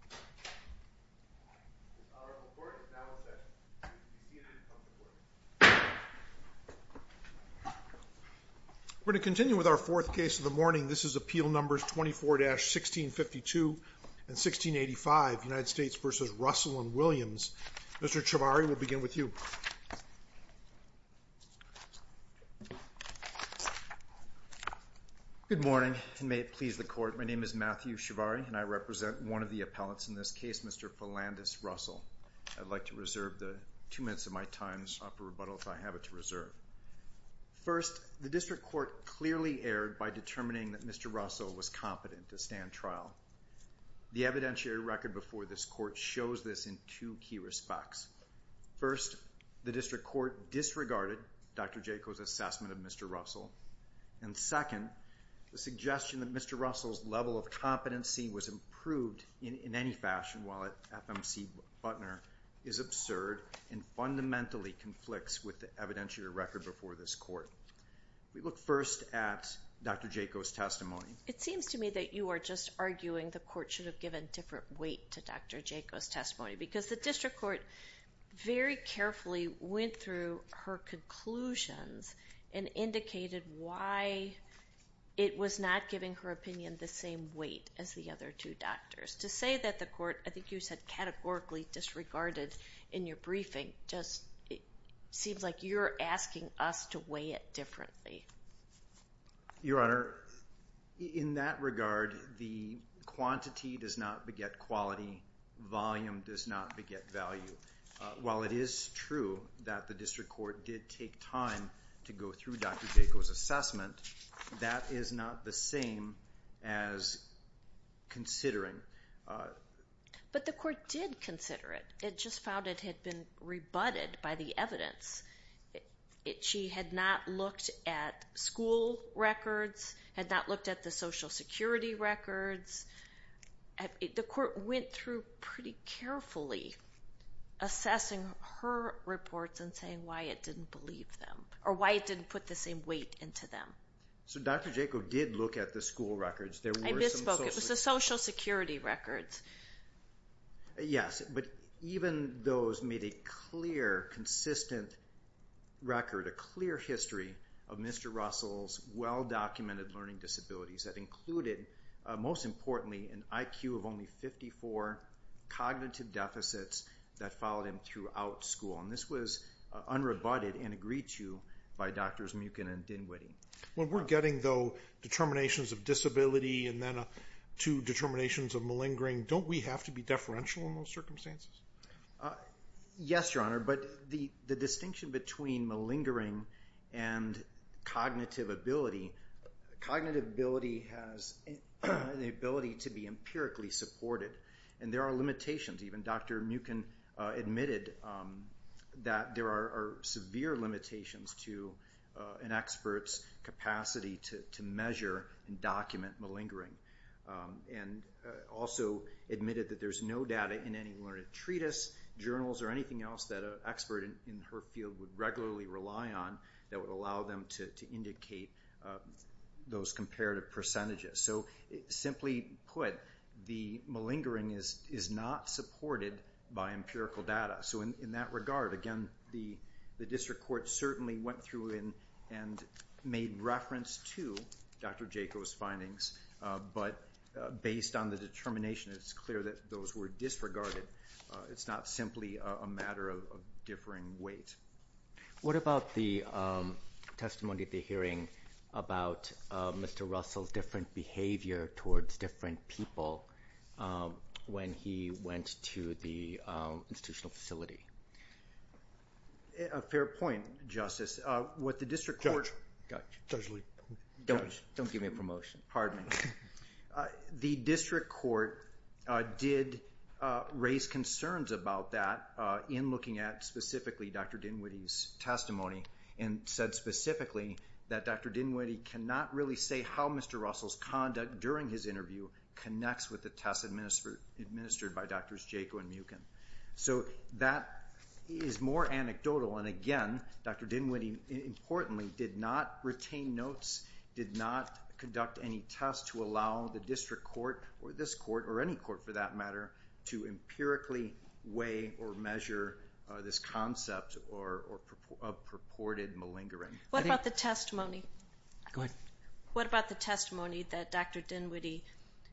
and Williams. Mr. Chivari, we'll begin with you. Good morning, and may it please the Court. My name is Matthew Chivari, and I represent one of the appellants in this case, Mr. Falandis Russell. I'd like to reserve the two minutes of my time to offer rebuttal if I have it to reserve. First, the District Court clearly erred by determining that Mr. Russell was competent to stand trial. The evidentiary record before this Court shows this in two key respects. First, the District Court disregarded Dr. Jacobs' assessment of Mr. Russell, and second, the suggestion that Mr. Russell's level of competency was improved in any fashion while at FMC Butner is absurd and fundamentally conflicts with the evidentiary record before this Court. We look first at Dr. Jacobs' testimony. It seems to me that you are just arguing the Court should have given different weight to Dr. Jacobs' testimony, because the District Court very carefully went through her conclusions and indicated why it was not giving her opinion the same weight as the other two doctors. To say that the Court, I think you said categorically disregarded in your briefing, just seems like you're asking us to weigh it differently. Your Honor, in that regard, the quantity does not quality. Volume does not beget value. While it is true that the District Court did take time to go through Dr. Jacobs' assessment, that is not the same as considering. But the Court did consider it. It just found it had been rebutted by the evidence. She had not looked at school records, had not looked at the Social Security records. The Court went through pretty carefully assessing her reports and saying why it didn't put the same weight into them. So Dr. Jacobs did look at the school records. I misspoke. It was the Social Security records. Yes, but even those made a clear, consistent record, a clear history of Mr. Russell's well-documented learning disabilities that included, most importantly, an IQ of only 54, cognitive deficits that followed him throughout school. This was unrebutted and agreed to by Drs. Muchen and Dinwiddie. When we're getting, though, determinations of disability and then two determinations of malingering, don't we have to be deferential in those circumstances? Yes, Your Honor, but the distinction between malingering and cognitive ability, cognitive ability has the ability to be empirically supported, and there are limitations. Even Dr. Muchen admitted that there are severe limitations to an expert's capacity to measure and document malingering, and also admitted that there's no data in any learned treatise, journals, or anything else that an expert in her field would regularly rely on that would allow them to indicate those comparative percentages. So simply put, the malingering is not supported by empirical data. So in that regard, again, the district court certainly went through and made reference to Dr. Jaco's findings, but based on the determination, it's clear that those were disregarded. It's not simply a matter of differing weight. What about the testimony at the hearing about Mr. Russell's different behavior towards different people when he went to the institutional facility? A fair point, Justice. What the district court... Judge. Judge Lee. Don't give me a promotion. Pardon me. The district court did raise concerns about that in looking at specifically Dr. Dinwiddie's testimony, and said specifically that Dr. Dinwiddie cannot really say how Mr. Russell's conduct during his interview connects with the tests administered by Drs. Jaco and Muchen. So that is more anecdotal, and again, Dr. Dinwiddie importantly did not retain notes, did not conduct any tests to allow the district court, or this court, or any court for that matter, to empirically weigh or measure this concept of purported malingering. What about the testimony? Go ahead. What about the testimony that Dr. Dinwiddie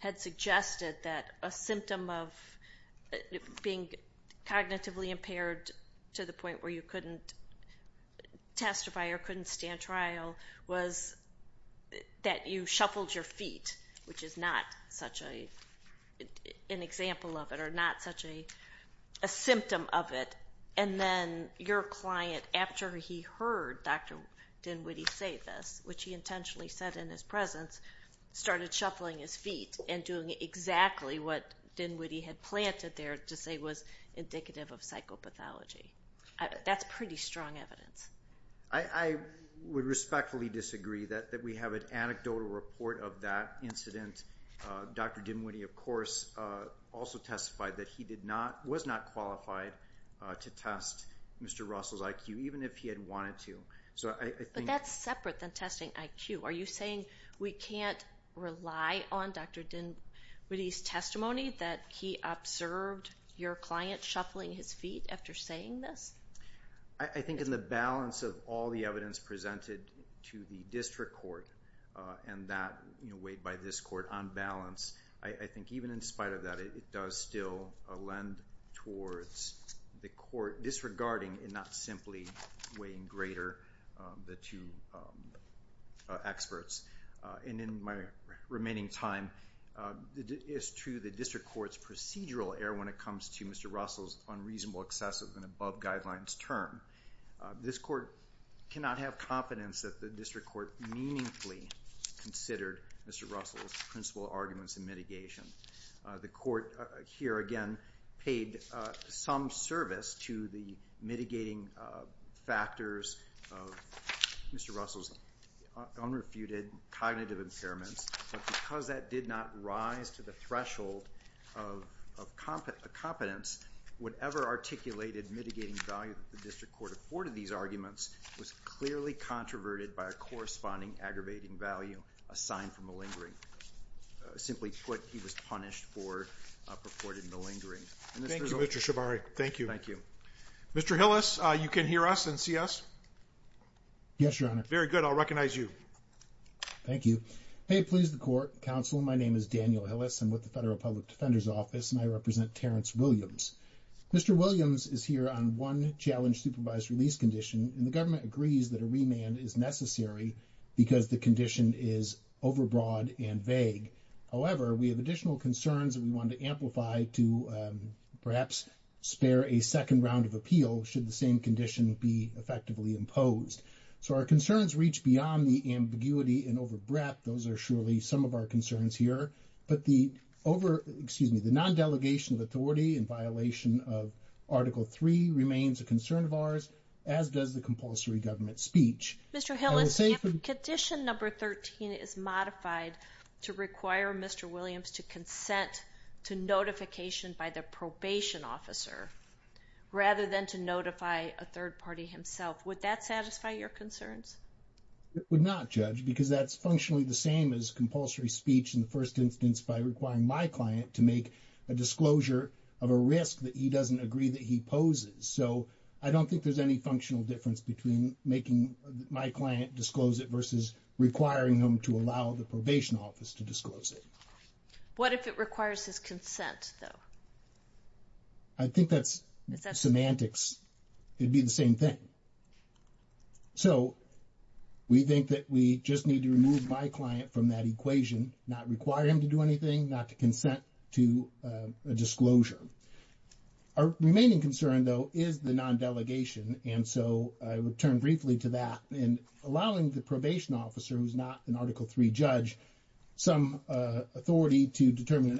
had suggested that a symptom of being cognitively impaired to the point where you couldn't testify or couldn't stand trial was that you shuffled your feet, which is not such an example of it, or not such a symptom of it, and then your client, after he heard Dr. Dinwiddie say this, which he intentionally said in his presence, started shuffling his feet and doing exactly what Dinwiddie had planted there to say was indicative of psychopathology? That's pretty strong evidence. I would respectfully disagree that we have an anecdotal report of that incident. Dr. Dinwiddie, of course, also testified that he was not qualified to test Mr. Russell's IQ, even if he had wanted to. But that's separate than testing IQ. Are you saying we can't rely on Dr. Dinwiddie's testimony that he observed your client shuffling his feet after saying this? I think in the balance of all the evidence presented to the district court and that weighed by this court on balance, I think even in spite of that, it does still lend towards the court disregarding and not simply weighing greater the two experts. And in my remaining time, it's true the district court's procedural error when it comes to Mr. Russell's unreasonable, excessive, and above guidelines term. This court cannot have confidence that the district court meaningfully considered Mr. Russell's principal arguments in mitigation. The court here, again, paid some service to the mitigating factors of Mr. Russell's unrefuted cognitive impairments. But because that did not rise to the threshold of competence, whatever articulated mitigating value the district court afforded these arguments was clearly controverted by a corresponding aggravating value assigned for malingering. Simply put, he was punished for purported malingering. Thank you, Mr. Shabari. Thank you. Thank you. Mr. Hillis, you can hear us and see us? Yes, Your Honor. Very good. I'll recognize you. Thank you. May it please the court, counsel, my name is Daniel Hillis. I'm with the Federal Public Defender's Office and I represent Terrence Williams. Mr. Williams is here on one challenge supervised release condition and the government agrees that a remand is necessary because the condition is overbroad and vague. However, we have additional concerns that we want to amplify to perhaps spare a second round of appeal should the same condition be effectively imposed. So our concerns reach beyond the ambiguity and overbreadth. Those are surely some of our concerns here. But the over, excuse me, the non-delegation of authority in violation of Article 3 remains a concern of ours as does the compulsory government speech. Mr. Hillis, if condition number 13 is modified to require Mr. Williams to consent to notification by the probation officer rather than to notify a third party himself, would that satisfy your concerns? It would not, Judge, because that's functionally the same as compulsory speech in the first instance by requiring my client to make a disclosure of a risk that he doesn't agree that he poses. So I don't think there's any functional difference between making my client disclose it versus requiring him to allow the probation office to disclose it. What if it requires his consent, though? I think that's semantics. It'd be the same thing. So we think that we just need to remove my client from that equation, not require him to do anything, not to consent to a disclosure. Our remaining concern, though, is the non-delegation. And so I would turn briefly to that and allowing the probation officer, who's not an Article 3 judge, some authority to determine an non-delegation argument. And I would rely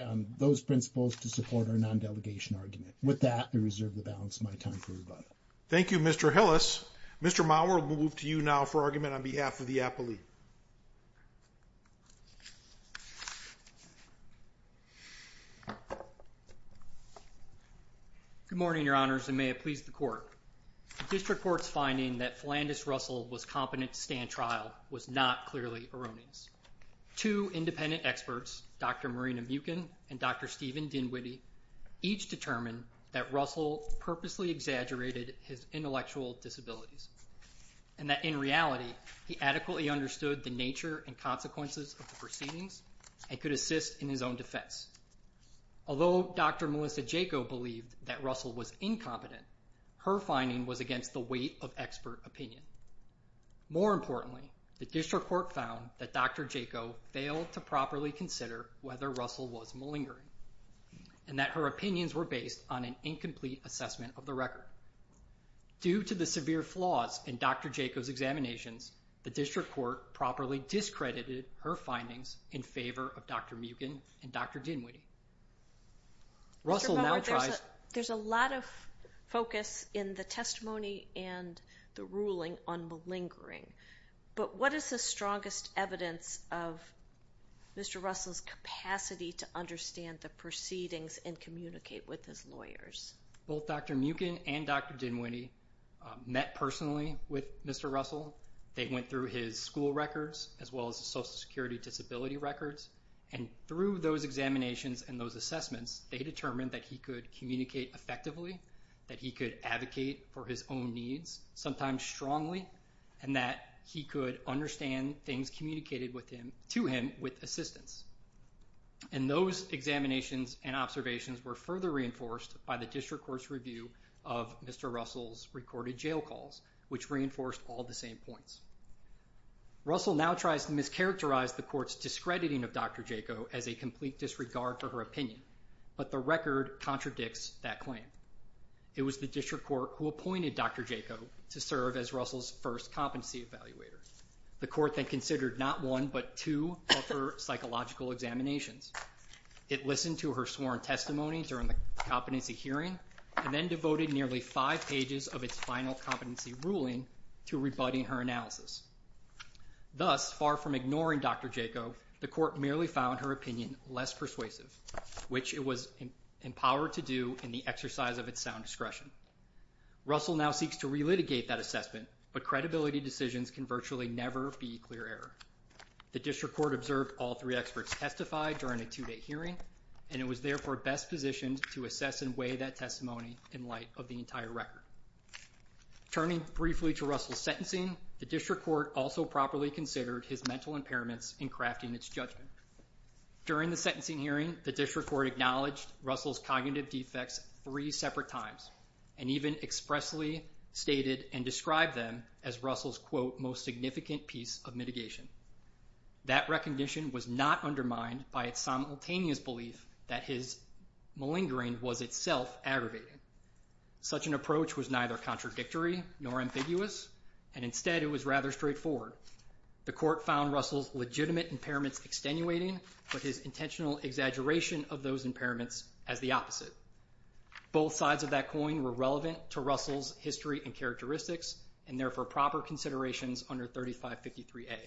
on those principles to support our non-delegation argument. With that, I reserve the balance of my time for rebuttal. Thank you, Mr. Hillis. Mr. Mauer, we'll move to you now for argument on behalf of the appellee. Good morning, Your Honors, and may it please the court. The district court's finding that Philandus Russell was competent to stand trial was not clearly erroneous. Two independent experts, Dr. Marina Muchen and Dr. Steven Dinwiddie, each determined that Russell purposely exaggerated his intellectual disabilities, and that in reality, he adequately understood the nature and consequences of the proceedings and could assist in his own defense. Although Dr. Melissa Jaco believed that Russell was incompetent, her finding was against the weight of expert opinion. More importantly, the district court found that Dr. Jaco failed to properly consider whether Russell was malingering, and that her opinions were based on an incomplete assessment of the record. Due to the severe flaws in Dr. Jaco's examinations, the district court properly discredited her findings in favor of Dr. Muchen and Dr. Dinwiddie. Mr. Mauer, there's a lot of focus in the testimony and the ruling on malingering, but what is the strongest evidence of Mr. Russell's capacity to understand the proceedings and communicate with his lawyers? Both Dr. Muchen and Dr. Dinwiddie met personally with Mr. Russell. They went through his school records, as well as his social security disability records, and through those examinations and those assessments, they determined that he could communicate effectively, that he could advocate for his own needs, sometimes strongly, and that he could understand things communicated to him with assistance. And those examinations and observations were further reinforced by the district court's review of Mr. Russell's recorded jail calls, which reinforced all the same points. Russell now tries to mischaracterize the court's discrediting of Dr. Jaco as a complete disregard for her opinion, but the record contradicts that claim. It was the district court who appointed Dr. Jaco to serve as Russell's first competency evaluator. The court then considered not one but two of her psychological examinations. It listened to her sworn testimony during the competency hearing, and then devoted nearly five pages of its final competency ruling to rebutting her analysis. Thus, far from ignoring Dr. Jaco, the court merely found her opinion less persuasive, which it was empowered to do in the exercise of its sound discretion. Russell now seeks to relitigate that assessment, but credibility decisions can virtually never be clear error. The district court observed all three experts testify during a two-day hearing, and it was therefore best positioned to assess and weigh that testimony in light of the entire record. Turning briefly to Russell's sentencing, the district court also properly considered his mental impairments in crafting its judgment. During the sentencing hearing, the district court acknowledged Russell's cognitive defects three separate times, and even expressly stated and described them as Russell's, quote, most significant piece of mitigation. That recognition was not undermined by its simultaneous belief that his malingering was itself aggravating. Such an approach was neither contradictory nor ambiguous, and instead it was rather straightforward. The court found Russell's legitimate impairments extenuating, but his intentional exaggeration of those impairments as the opposite. Both sides of that coin were relevant to Russell's history and characteristics, and therefore proper considerations under 3553A.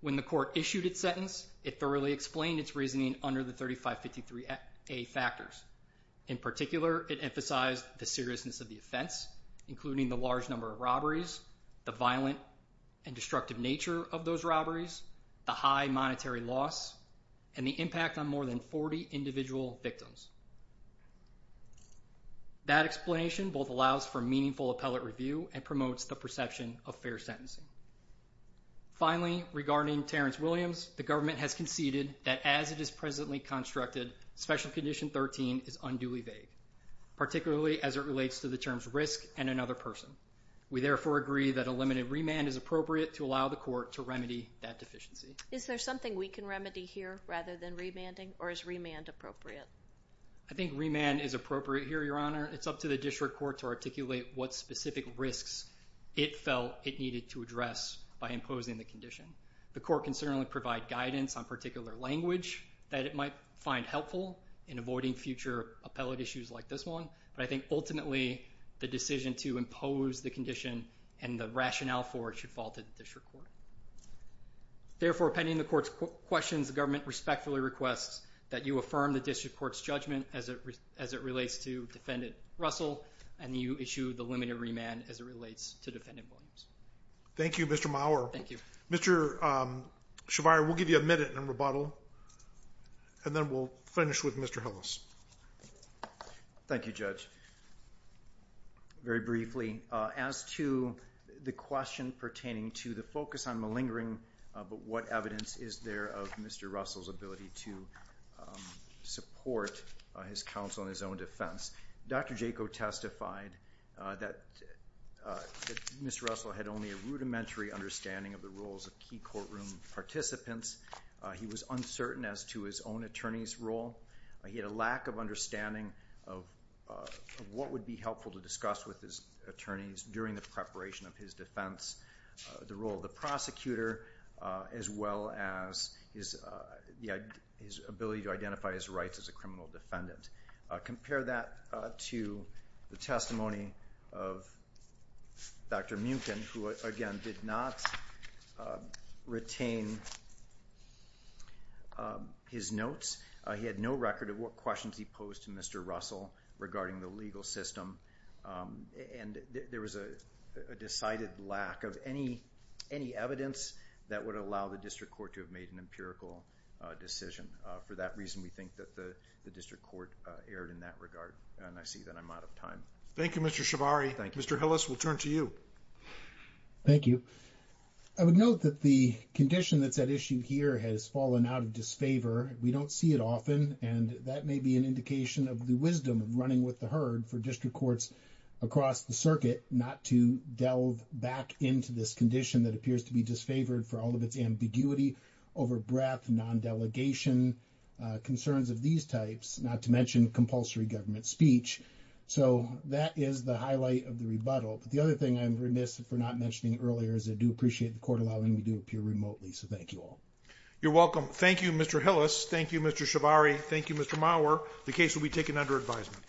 When the court issued its sentence, it thoroughly explained its reasoning under the 3553A factors. In particular, it emphasized the seriousness of the offense, including the large number of robberies, the violent and destructive nature of those robberies, the high monetary loss, and the impact on more than 40 individual victims. That explanation both allows for meaningful appellate review and promotes the perception of fair sentencing. Finally, regarding Terrence Williams, the government has conceded that as it is presently constructed, Special Condition 13 is unduly vague, particularly as it relates to the terms risk and another person. We therefore agree that a limited remand is appropriate to allow the court to remedy that deficiency. Is there something we can remedy here rather than remanding, or is I think remand is appropriate here, Your Honor. It's up to the district court to articulate what specific risks it felt it needed to address by imposing the condition. The court can certainly provide guidance on particular language that it might find helpful in avoiding future appellate issues like this one, but I think ultimately, the decision to impose the condition and the rationale for it should fall to the district court. Therefore, pending the court's questions, the government respectfully requests that you affirm the district court's judgment as it relates to Defendant Russell, and you issue the limited remand as it relates to Defendant Williams. Thank you, Mr. Maurer. Thank you. Mr. Shabir, we'll give you a minute in rebuttal, and then we'll finish with Mr. Hillis. Thank you, Judge. Very briefly, as to the question pertaining to the focus on malingering, but what evidence is there of Mr. Russell's ability to support his counsel in his own defense, Dr. Jaco testified that Mr. Russell had only a rudimentary understanding of the roles of key courtroom participants. He was uncertain as to his own attorney's role. He had a lack of understanding of what would be helpful to attorneys during the preparation of his defense, the role of the prosecutor, as well as his ability to identify his rights as a criminal defendant. Compare that to the testimony of Dr. Muchen, who, again, did not retain his notes. He had no record of what questions he posed to Mr. Russell regarding the legal system, and there was a decided lack of any evidence that would allow the district court to have made an empirical decision. For that reason, we think that the district court erred in that regard, and I see that I'm out of time. Thank you, Mr. Shabari. Thank you. Mr. Hillis, we'll turn to you. Thank you. I would note that the condition that's at issue here has fallen out of disfavor. We don't see it often, and that may be an indication of the wisdom of running with the herd for district courts across the circuit not to delve back into this condition that appears to be disfavored for all of its ambiguity, over-breath, non-delegation, concerns of these types, not to mention compulsory government speech. That is the highlight of the rebuttal. The other thing I'm remiss for not mentioning earlier is I do appreciate the court allowing me to appear remotely, so thank you all. You're welcome. Thank you, Mr. Hillis. Thank you, Mr. Shabari. Thank you, Mr. Mauer. The case will be taken under advisement.